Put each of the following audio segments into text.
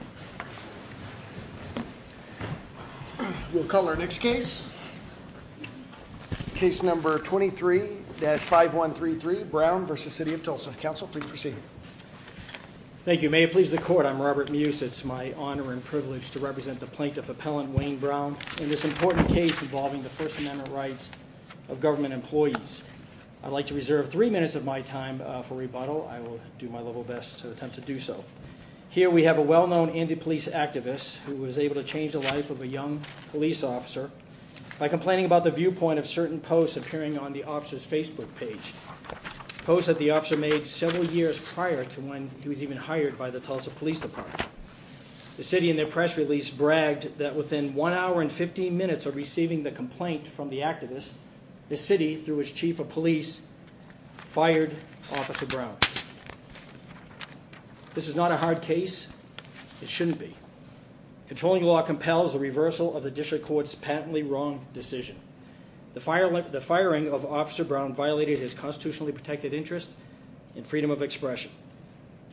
May it please the court, I'm Robert Muse. It's my honor and privilege to represent the plaintiff appellant Wayne Brown in this important case involving the First Amendment rights of government employees. I'd like to reserve three minutes of my time for rebuttal. I will do my level best to do so. Here we have a well-known anti-police activist who was able to change the life of a young police officer by complaining about the viewpoint of certain posts appearing on the officer's Facebook page. Posts that the officer made several years prior to when he was even hired by the Tulsa Police Department. The city in their press release bragged that within one hour and 15 minutes of receiving the complaint from the activist, the city through its chief of police fired Officer Brown. This is not a hard case. It shouldn't be. Controlling law compels the reversal of the district court's patently wrong decision. The firing of Officer Brown violated his constitutionally protected interest in freedom of expression.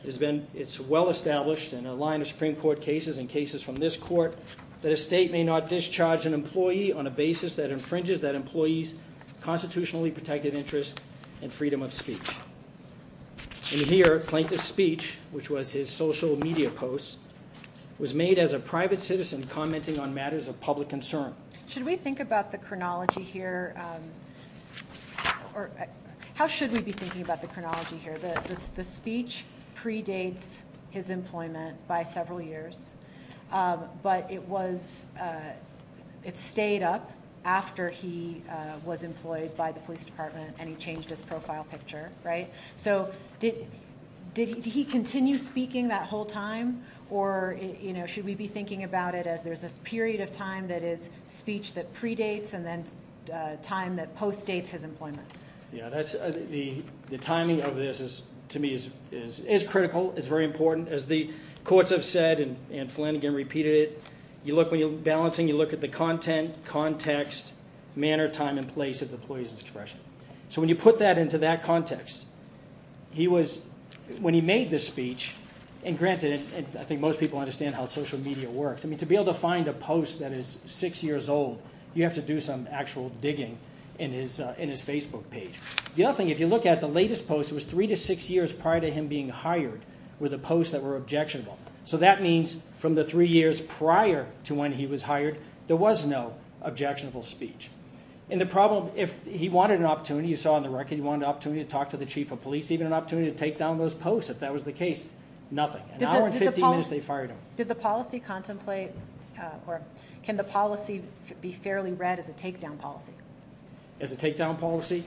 It's well established in a line of Supreme Court cases and cases from this court that a state may not discharge an employee on a basis that infringes that employee's constitutionally protected interest in freedom of speech. In here, plaintiff's speech, which was his social media posts, was made as a private citizen commenting on matters of public concern. Should we think about the chronology here? How should we be thinking about the chronology here? The speech predates his employment by several years, but it was, uh, it stayed up after he was employed by the police department and he changed his profile picture, right? So did did he continue speaking that whole time? Or, you know, should we be thinking about it as there's a period of time that is speech that predates and then time that postdates his employment? Yeah, that's the timing of this is to me is is is critical. It's very important as the courts have said and and Flynn again repeated it. You look when you're balancing, you look at the content, context, manner, time and place of the police's expression. So when you put that into that context, he was when he made this speech and granted it, I think most people understand how social media works. I mean, to be able to find a post that is six years old, you have to do some actual digging in his in his Facebook page. The other thing, if you look at the latest post, it was three to six years prior to him being hired were the posts that were objectionable. So that means from the three years prior to when he was hired, there was no objectionable speech. And the problem if he wanted an opportunity, you saw on the record, he wanted opportunity to talk to the chief of police, even an opportunity to take down those posts. If that was the case, nothing. An hour and 15 minutes, they fired him. Did the policy contemplate, uh, or can the policy be fairly read as a takedown policy? As a takedown policy?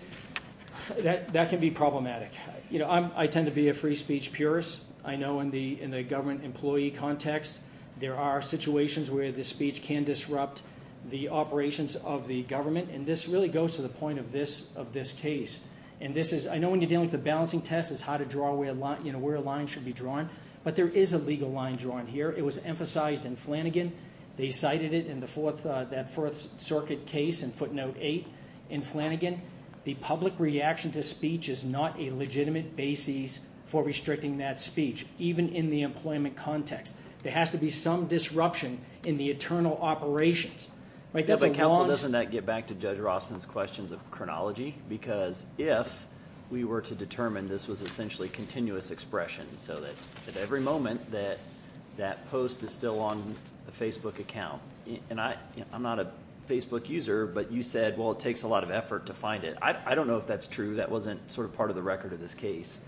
That that can be problematic. You know, I tend to be a free speech purist. I know in the in the government employee context, there are situations where the speech can disrupt the operations of the government. And this really goes to the point of this of this case. And this is I know when you're dealing with the balancing test is how to draw a line, you know, where a line should be drawn. But there is a legal line drawn here. It was emphasized in Flanagan. They cited it in the that Fourth Circuit case and footnote eight in Flanagan. The public reaction to speech is not a legitimate basis for restricting that speech. Even in the employment context, there has to be some disruption in the internal operations, right? That's a council. Doesn't that get back to Judge Rossman's questions of chronology? Because if we were to determine this was essentially continuous expression so that at every moment that that post is still on the Facebook account, and I'm not a Facebook user, but you said, well, it takes a lot of effort to find it. I don't know if that's true. That wasn't sort of part of the record of this case.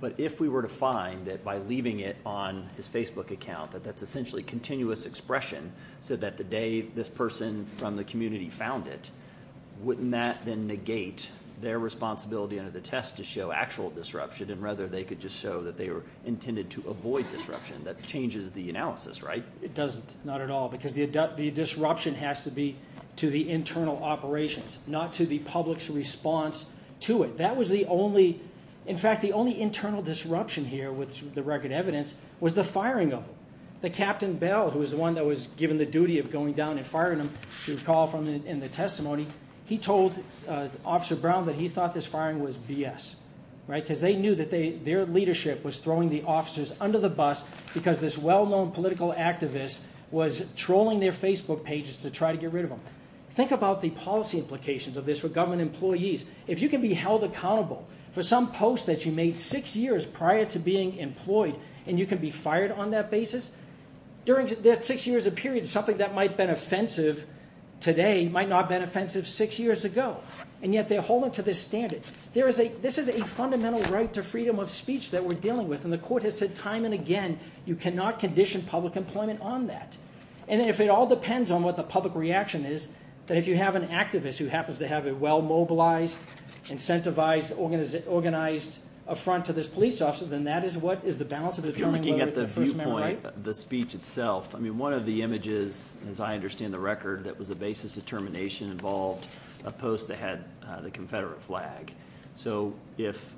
But if we were to find that by leaving it on his Facebook account, that that's essentially continuous expression so that the day this person from the community found it, wouldn't that then negate their responsibility under the test to show actual disruption and rather they could just show that they were intended to avoid disruption? That changes the analysis, right? It doesn't, not at all, because the disruption has to be to the internal operations, not to the public's response to it. That was the only, in fact, the only internal disruption here with the record evidence was the firing of him. The Captain Bell, who was the one that was given the duty of going down and firing him, if you recall from in the he told Officer Brown that he thought this firing was BS, right? Because they knew that their leadership was throwing the officers under the bus because this well-known political activist was trolling their Facebook pages to try to get rid of them. Think about the policy implications of this for government employees. If you can be held accountable for some post that you made six years prior to being employed and you can be fired on that basis, during that six years of period, something that might have been offensive today might not have been offensive six years ago, and yet they're holding to this standard. There is a, this is a fundamental right to freedom of speech that we're dealing with, and the court has said time and again you cannot condition public employment on that. And if it all depends on what the public reaction is, that if you have an activist who happens to have a well-mobilized, incentivized, organized affront to this police officer, then that is what is the balance of determining whether it's a first man, right? The speech itself, I mean one of the images, as I understand the record, that was the basis of termination involved a post that had the Confederate flag. So if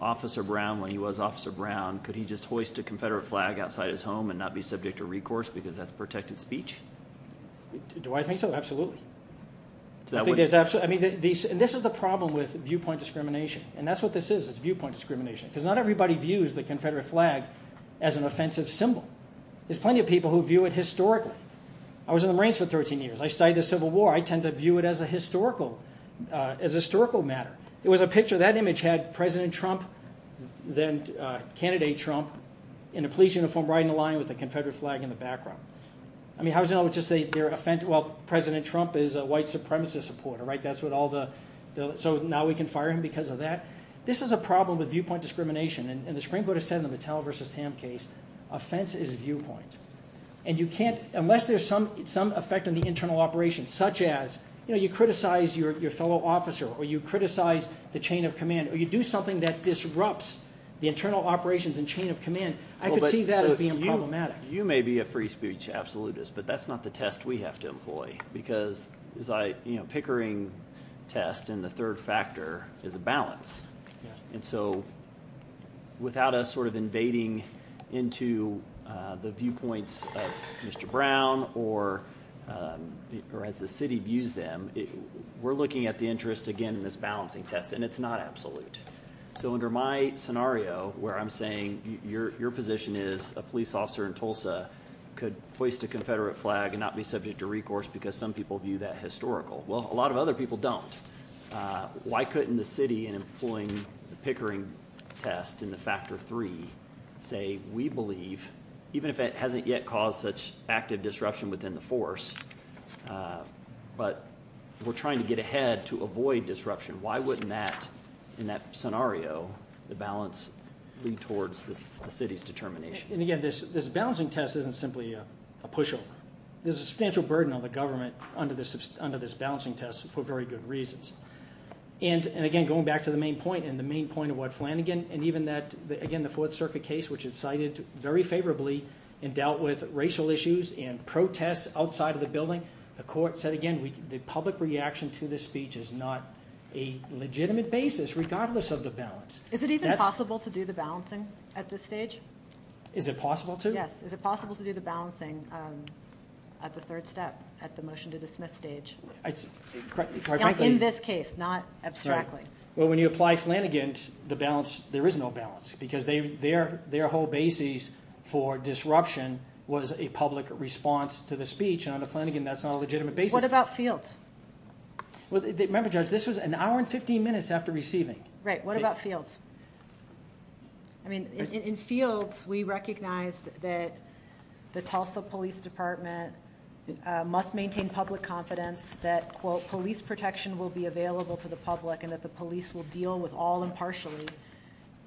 Officer Brown, when he was Officer Brown, could he just hoist a Confederate flag outside his home and not be subject to recourse because that's protected speech? Do I think so? Absolutely. I think there's absolutely, I mean this is the problem with viewpoint discrimination, and that's what this is, it's viewpoint an offensive symbol. There's plenty of people who view it historically. I was in the Marines for 13 years. I studied the Civil War. I tend to view it as a historical, as a historical matter. It was a picture, that image had President Trump, then candidate Trump in a police uniform riding the line with the Confederate flag in the background. I mean how is it not just their offense, well President Trump is a white supremacist supporter, right? That's what all the, so now we can fire him because of that? This is a problem with viewpoint discrimination, and the Supreme Court has said in the Mattel v. Tam case, offense is viewpoint, and you can't, unless there's some effect on the internal operations, such as, you know, you criticize your fellow officer, or you criticize the chain of command, or you do something that disrupts the internal operations and chain of command, I could see that as being problematic. You may be a free speech absolutist, but that's not the test we have to employ, because as I, you know, pickering test, and the third factor is a balance, and so without us sort of invading into the viewpoints of Mr. Brown, or as the city views them, we're looking at the interest again in this balancing test, and it's not absolute. So under my scenario, where I'm saying your position is a police officer in Tulsa could hoist a Confederate flag and not be subject to recourse, because some people view that historical. Well, a lot of other people don't. Why couldn't the city, in employing the pickering test in the factor three, say we believe, even if it hasn't yet caused such active disruption within the force, but we're trying to get ahead to avoid disruption, why wouldn't that, in that scenario, the balance lead towards the city's determination? And again, this balancing test isn't simply a pushover. There's a substantial burden on the government under this balancing test for very good reasons, and again, going back to the main point, and the main point of what Flanagan, and even that, again, the Fourth Circuit case, which is cited very favorably and dealt with racial issues and protests outside of the building, the court said again, the public reaction to this speech is not a legitimate basis, regardless of the balance. Is it even possible to do the balancing at this stage? Is it possible to? Yes. Is it possible to do the balancing at the third step, at the motion to dismiss stage? In this case, not abstractly. Well, when you apply Flanagan, the balance, there is no balance, because their whole basis for disruption was a public response to the speech, and under Flanagan, that's not a legitimate basis. What about fields? Remember, Judge, this was an hour and 15 minutes after receiving. Right. What about fields? In fields, we recognize that the Tulsa Police Department must maintain public confidence that, quote, police protection will be available to the public and that the police will deal with all impartially.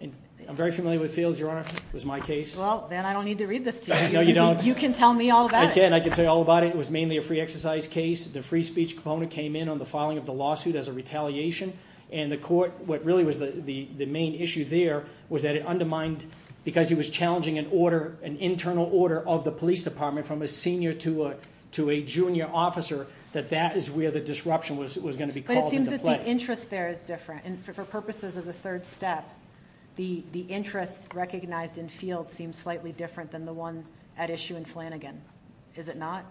I'm very familiar with fields, Your Honor. It was my case. Well, then I don't need to read this to you. No, you don't. You can tell me all about it. I can. I can tell you all about it. It was mainly a free exercise case. The free speech component came in on the filing of the lawsuit as a retaliation. What really was the main issue there was that it undermined, because he was challenging an internal order of the police department from a senior to a junior officer, that that is where the disruption was going to be called into play. But it seems that the interest there is different. For purposes of the third step, the interest recognized in fields seems slightly different than the one at issue in Flanagan. Is it not?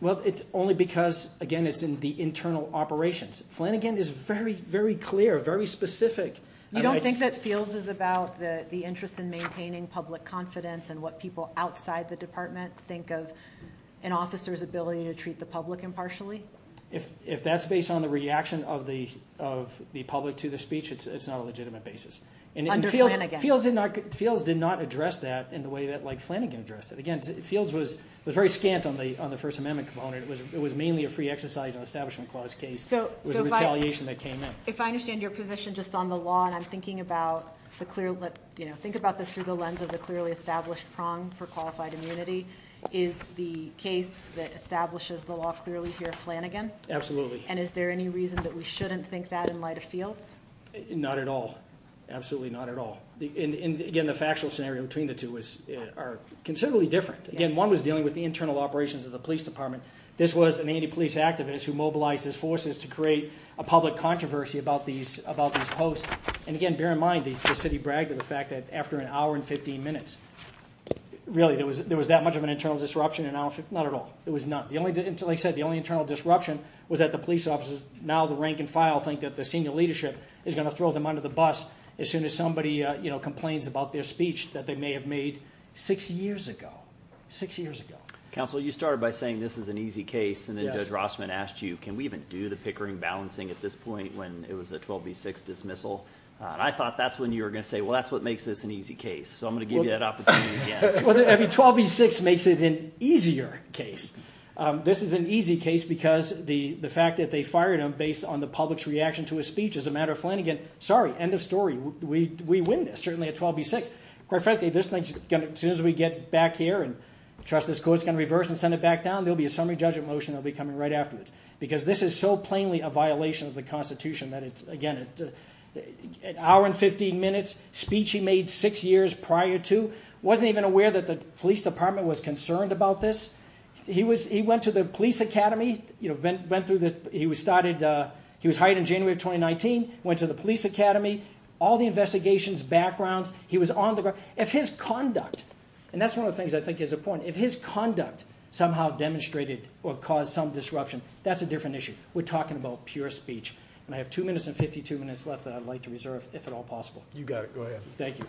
Well, it's only because, again, it's in the internal operations. Flanagan is very, very clear, very specific. You don't think that fields is about the interest in maintaining public confidence and what people outside the department think of an officer's ability to treat the public impartially? If that's based on the reaction of the of the public to the speech, it's not a legitimate basis. And fields did not address that in the way that Flanagan addressed it. Again, fields was very scant on the on the First Amendment component. It was mainly a free exercise and establishment clause case. It was a retaliation that came in. If I understand your position just on the law, and I'm thinking about the clear, you know, think about this through the lens of the clearly established prong for qualified immunity. Is the case that establishes the law clearly here Flanagan? Absolutely. And is there any reason that we shouldn't think that in light of fields? Not at all. Absolutely not at all. And again, the factual scenario between the two was are considerably different. Again, one was dealing with the internal operations of the police department. This was an anti-police activist who mobilized his forces to create a public controversy about these about these posts. And again, bear in mind, the city bragged to the fact that after an hour and 15 minutes, really, there was there was that much of an internal disruption and not at all. It was not the only until I said the only internal disruption was that the police officers now the rank and file think that the senior leadership is going to throw them under the bus as soon as somebody, you know, complains about their speech that they may have made six years ago, six years ago. Counsel, you started by saying this is an easy case. And then Judge Rossman asked you, can we even do the Pickering balancing at this point when it was a 12 v 6 dismissal? I thought that's when you were going to say, well, that's what makes this an easy case. So I'm going to give you that opportunity. Every 12 v 6 makes it an easier case. This is an easy case because the fact that they fired him based on the public's reaction to his speech as a matter of Flanagan, sorry, end of story. We win this certainly at 12 v 6. Quite frankly, this thing's going to as soon as we get back here and trust this court's going to reverse and send it back down, there'll be a summary judgment motion that'll be coming right afterwards. Because this is so plainly a violation of the Constitution that it's again, an hour and 15 minutes speech he made six years prior to wasn't even aware that the police department was concerned about this. He was he went to the police academy, you know, been through this, he was started, he was hired in January of 2019, went to the police academy, all the investigations backgrounds, he was on the ground, if his conduct, and that's one of the things I think is important, if his conduct somehow demonstrated or caused some disruption, that's a different issue. We're talking about pure speech. And I have two minutes and 52 minutes left that I'd like to reserve if at all possible. You got it. Go ahead. Thank you.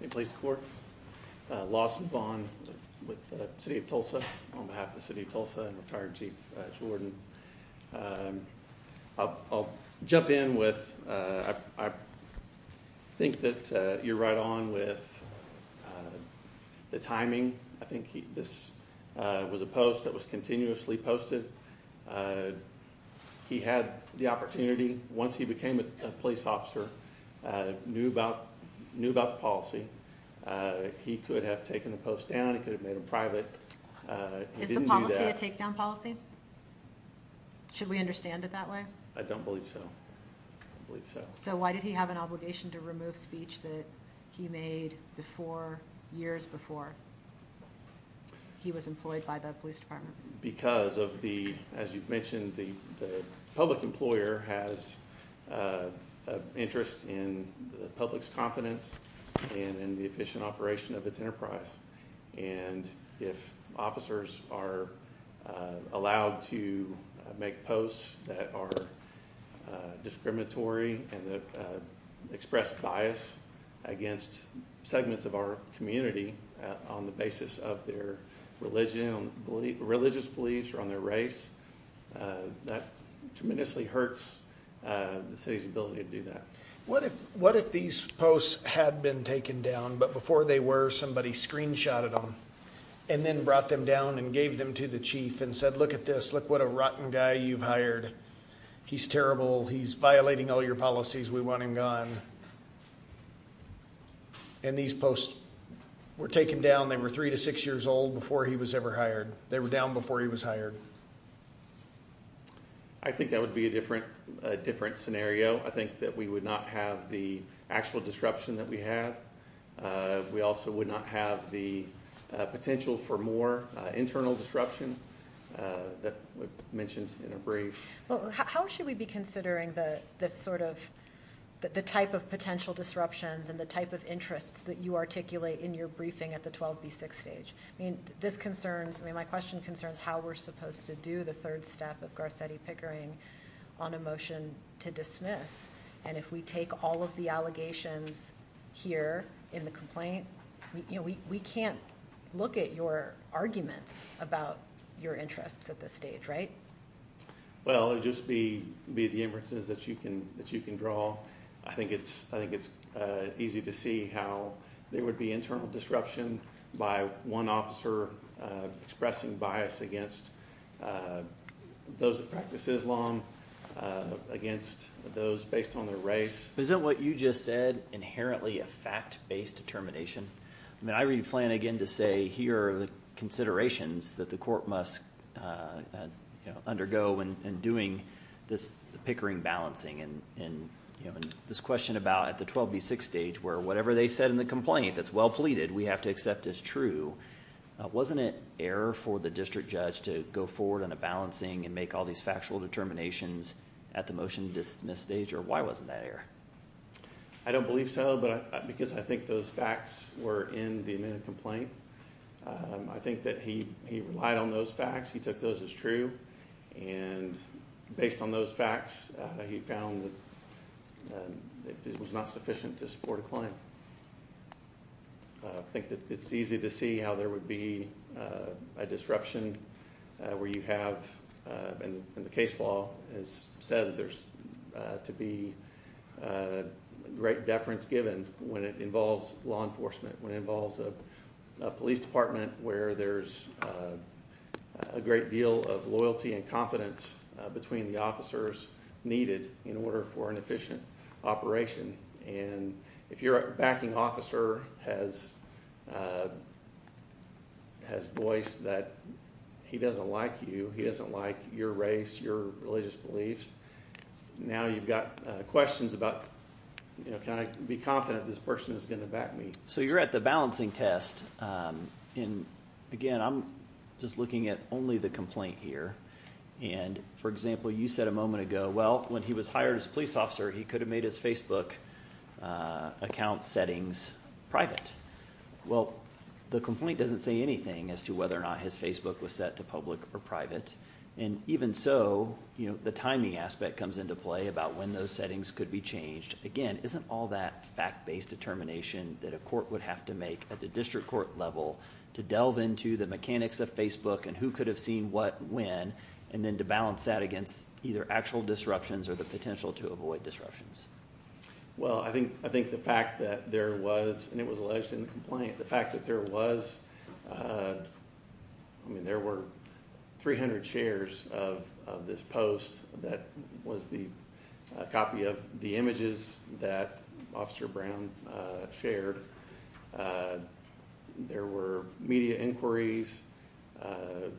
Hey, police court. Lawson Vaughn with the city of Tulsa on behalf of the city of Tulsa and retired chief Jordan. I'll jump in with I think that you're right on with the timing. I think he this was a post that was continuously posted. He had the opportunity once he became a police officer, knew about knew about the policy. He could have taken the post down, it could have made him private. Is the policy a takedown policy? Should we understand it that way? I don't believe so. I believe so. So why did he have an obligation to remove speech that he made before years before he was employed by the police department? Because of the, as you've mentioned, the public employer has an interest in the public's confidence and in the efficient operation of its enterprise. And if officers are allowed to make posts that are discriminatory and express bias against segments of our community on the basis of their religion, religious beliefs, or on their race, that tremendously hurts the city's ability to do that. What if, what if these posts had been taken down, but before they were somebody screenshotted them and then brought them down and gave them to the chief and said, look at this, what a rotten guy you've hired. He's terrible. He's violating all your policies. We want him gone. And these posts were taken down, they were three to six years old before he was ever hired. They were down before he was hired. I think that would be a different scenario. I think that we would not have the actual disruption that we have. We also would not have the potential for more internal disruption that we've mentioned in a brief. Well, how should we be considering the sort of, the type of potential disruptions and the type of interests that you articulate in your briefing at the 12B6 stage? I mean, this concerns, I mean, my question concerns how we're supposed to do the third step of Garcetti Pickering on a motion to dismiss. And if we take all of the allegations here in the complaint, we can't look at your arguments about your interests at this stage, right? Well, it would just be the inferences that you can draw. I think it's easy to see how there would be internal disruption by one officer expressing bias against those that practice Islam, against those based on their race. Isn't what you just said inherently a fact-based determination? I mean, I read Flanagan to say here are the considerations that the court must undergo in doing this Pickering balancing. And this question about at the 12B6 stage, where whatever they said in the complaint that's well pleaded, we have to accept as true. Wasn't it error for the district judge to go forward on a balancing and make all these factual determinations at the motion to dismiss stage? Or why wasn't that error? I don't believe so, because I think those facts were in the amended complaint. I think that he relied on those facts. He took those as true. And based on those facts, he found that it was not sufficient to support a claim. I think that it's easy to see how there would be a disruption where you have in the case law has said there's to be great deference given when it involves law enforcement, when it involves a police department where there's a great deal of loyalty and confidence between the officers needed in order for an efficient operation. And if your backing officer has voiced that he doesn't like you, he doesn't like your race, your religious beliefs, now you've got questions about, you know, can I be confident this person is going to back me? So you're at the balancing test. And again, I'm just looking at only the complaint here. And for example, you said a moment ago, well, when he was hired as police officer, he could have made his Facebook account settings private. Well, the complaint doesn't say anything as to whether or not his Facebook was set to public or private. And even so, the timing aspect comes into play about when those settings could be changed. Again, isn't all that fact-based determination that a court would have to make at the district court level to delve into the mechanics of Facebook and who could have seen what when, and then to balance that against either disruptions or the potential to avoid disruptions? Well, I think the fact that there was, and it was alleged in the complaint, the fact that there was, I mean, there were 300 shares of this post that was the copy of the images that Officer Brown shared. There were media inquiries.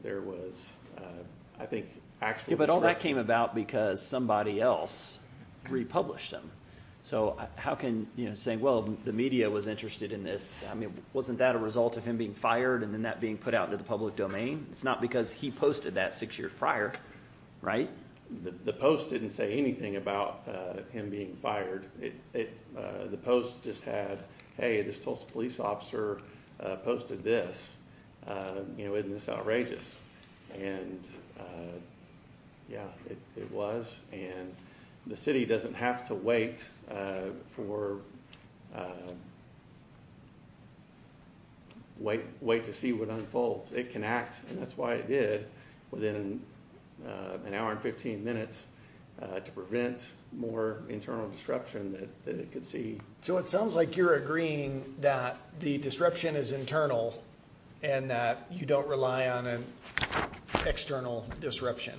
There was, I think, actual disruption. But all that came about because somebody else republished them. So how can, you know, saying, well, the media was interested in this. I mean, wasn't that a result of him being fired and then that being put out into the public domain? It's not because he posted that six years prior, right? The post didn't say anything about him being fired. The post just had, hey, this Tulsa police officer posted this. You know, isn't this outrageous? And, yeah, it was. And the city doesn't have to wait for, wait to see what unfolds. It can act, and that's why it did, within an hour and 15 minutes to prevent more internal disruption that it could see. So it sounds like you're agreeing that the disruption is internal and that you don't rely on an external disruption.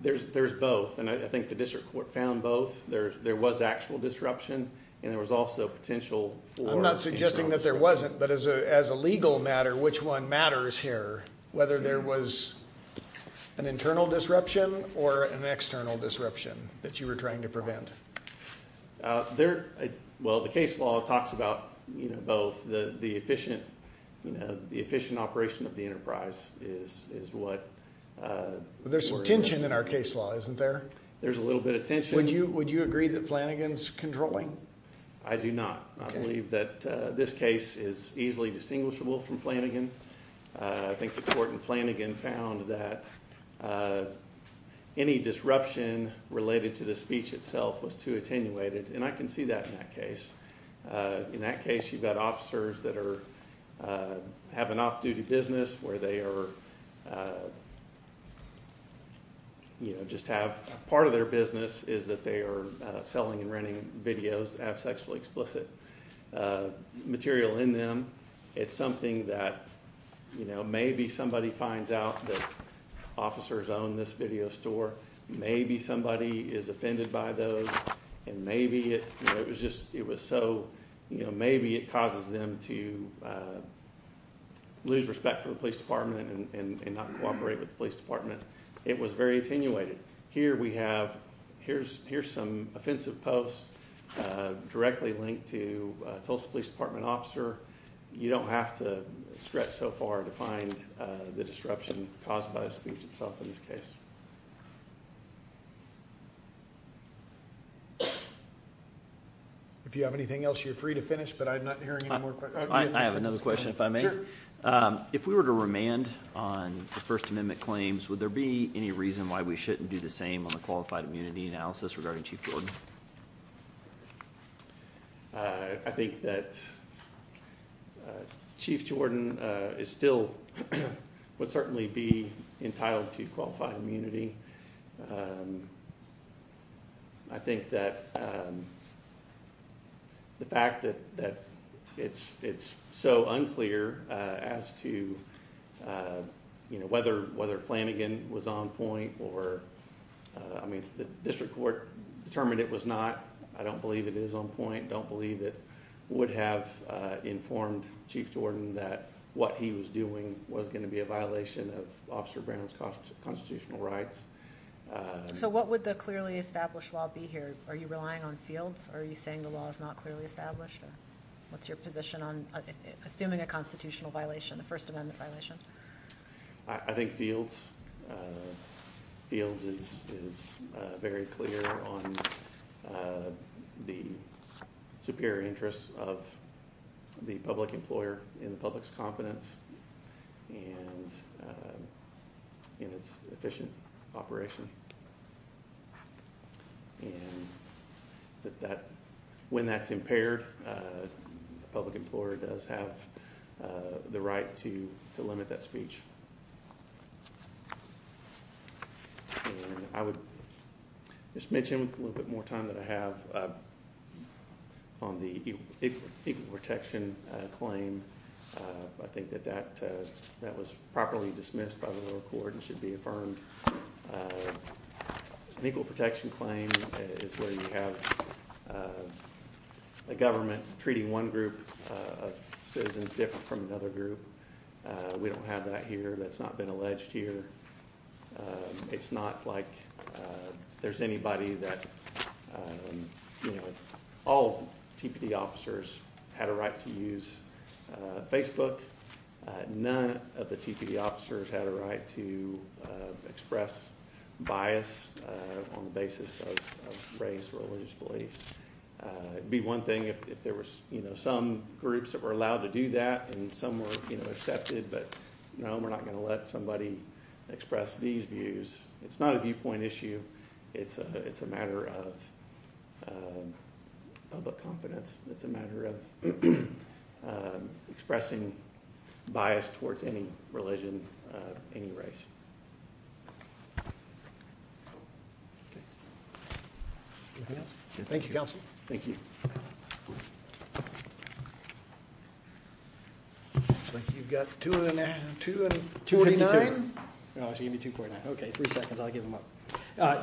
There's both, and I think the district court found both. There was actual disruption, and there was also potential for- I'm not suggesting that there wasn't, but as a legal matter, which one matters here? Whether there was an internal disruption or an external disruption that you were trying to Well, the case law talks about both. The efficient operation of the enterprise is what- There's some tension in our case law, isn't there? There's a little bit of tension. Would you agree that Flanagan's controlling? I do not. I believe that this case is easily distinguishable from Flanagan. I think the court in Flanagan found that any disruption related to the speech itself was too attenuated, and I can see that in that case. In that case, you've got officers that have an off-duty business where they are- you know, just have part of their business is that they are selling and renting videos that have sexually explicit material in them. It's something that, you know, maybe somebody finds out that officers own this video store. Maybe somebody is offended by those, and maybe it was just- it was so- you know, maybe it causes them to lose respect for the police department and not cooperate with the police department. It was very attenuated. Here we have- here's some offensive posts directly linked to Tulsa Police Department officer. You don't have to stretch so far to find the disruption caused by the speech itself in this case. If you have anything else, you're free to finish, but I'm not hearing any more questions. I have another question if I may. If we were to remand on the First Amendment claims, would there be any reason why we shouldn't do the same on the qualified immunity analysis regarding Chief Jordan? I think that Chief Jordan is still- would certainly be entitled to qualified immunity. I don't believe it is on point. I don't believe it would have informed Chief Jordan that what he was doing was going to be a violation of Officer Brown's constitutional rights. So what would the clearly established law be here? Are you relying on fields? Are you saying the law is not clearly established? What's your position on assuming a constitutional violation, a First Amendment violation? I think fields is very clear on the superior interests of the public employer in the public's confidence and in its efficient operation. And when that's impaired, the public employer does have the right to limit that speech. And I would just mention with a little bit more time that I have on the equal protection claim, I think that that was properly dismissed by the Equal Protection Claim is where you have a government treating one group of citizens different from another group. We don't have that here. That's not been alleged here. It's not like there's anybody that, you know, all TPD officers had a right to use Facebook. None of the TPD officers had a right to express bias on the basis of race, religious beliefs. It'd be one thing if there was, you know, some groups that were allowed to do that and some were, you know, accepted. But no, we're not going to let somebody express these views. It's not a viewpoint issue. It's a matter of public confidence. It's a matter of expressing bias towards any religion, any race. Thank you, counsel. Thank you. Looks like you've got 249. No, it's going to be 249. Okay, three seconds. I'll give them up.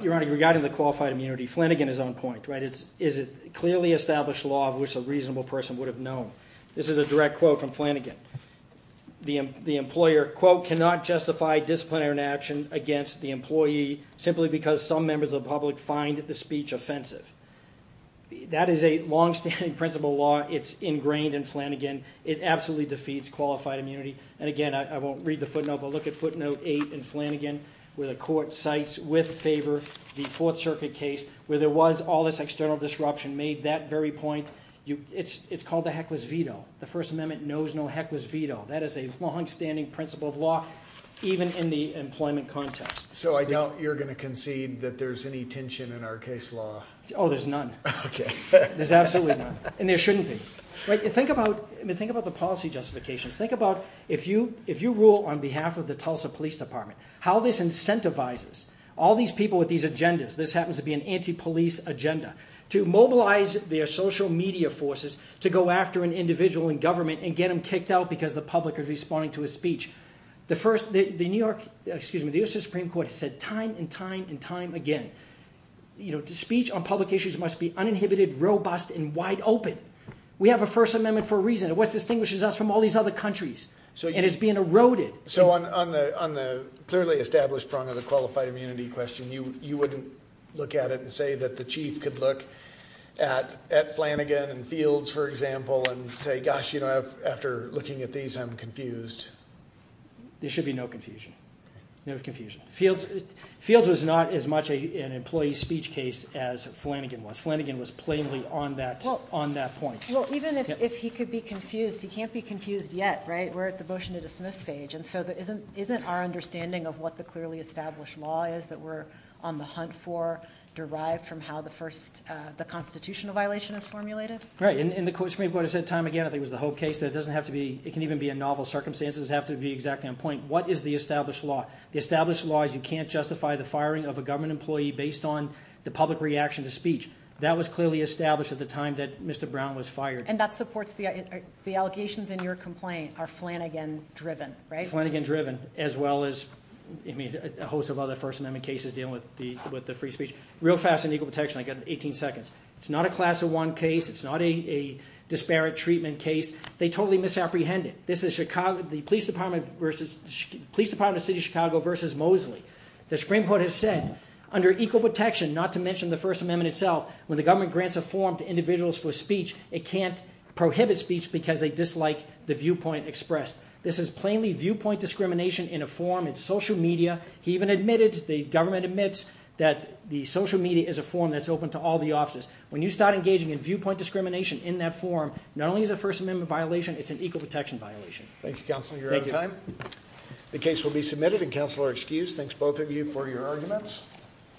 Your Honor, regarding the qualified immunity, Flanagan is on point, right? It's a clearly established law of which a reasonable person would have known. This is a direct quote from Flanagan. The employer, quote, cannot justify disciplinary action against the employee simply because some members of the public find the speech offensive. That is a long-standing principle law. It's ingrained in Flanagan. It absolutely defeats qualified immunity. And again, I won't read the footnote, but look at footnote eight in Flanagan where the court cites with favor the Fourth Circuit case where there was all this external disruption made that very point. It's called the heckless veto. The First Amendment knows no heckless veto. That is a long-standing principle of law even in the employment context. So I doubt you're going to concede that there's any tension in our case law. Oh, there's none. There's absolutely none. And there shouldn't be. Think about the policy justifications. Think about if you rule on behalf of the Tulsa Police Department, how this incentivizes all these people with these agendas, this happens to be an anti-police agenda, to mobilize their social media forces to go after an individual in government and get them kicked out because the public is responding to his speech. The U.S. Supreme Court has said time and time and time again, speech on public issues must be uninhibited, robust, and wide open. We have a First Amendment for a reason. It's what distinguishes us from all these other countries. And it's being eroded. So on the clearly established prong of the qualified immunity question, you wouldn't look at it and say that the chief could look at Flanagan and Fields, for example, and say, gosh, you know, after looking at these, I'm confused. There should be no confusion. No confusion. Fields was not as much an employee speech case as Flanagan was. Flanagan was on that point. Well, even if he could be confused, he can't be confused yet, right? We're at the motion to dismiss stage. And so isn't our understanding of what the clearly established law is that we're on the hunt for derived from how the Constitutional violation is formulated? Right. And the Supreme Court has said time and time again, I think it was the Hope case, that it doesn't have to be, it can even be in novel circumstances, have to be exactly on point. What is the established law? The established law is you can't justify the firing of a government employee based on the public reaction to speech. That was clearly established at the time that Mr. Brown was fired. And that supports the, the allegations in your complaint are Flanagan driven, right? Flanagan driven, as well as, I mean, a host of other First Amendment cases dealing with the, with the free speech. Real fast and equal protection, I got 18 seconds. It's not a class of one case. It's not a disparate treatment case. They totally misapprehended. This is Chicago, the Police Department versus, Police Department of the City of Chicago versus Mosley. The Supreme Court has said under equal protection, not to mention the First Amendment itself, when the government grants a form to individuals for speech, it can't prohibit speech because they dislike the viewpoint expressed. This is plainly viewpoint discrimination in a form. It's social media. He even admitted, the government admits that the social media is a form that's open to all the officers. When you start engaging in viewpoint discrimination in that form, not only is it a violation, it's an equal protection violation. Thank you, Counselor. You're out of time. The case will be submitted and Counselor excused. Thanks both of you for your arguments.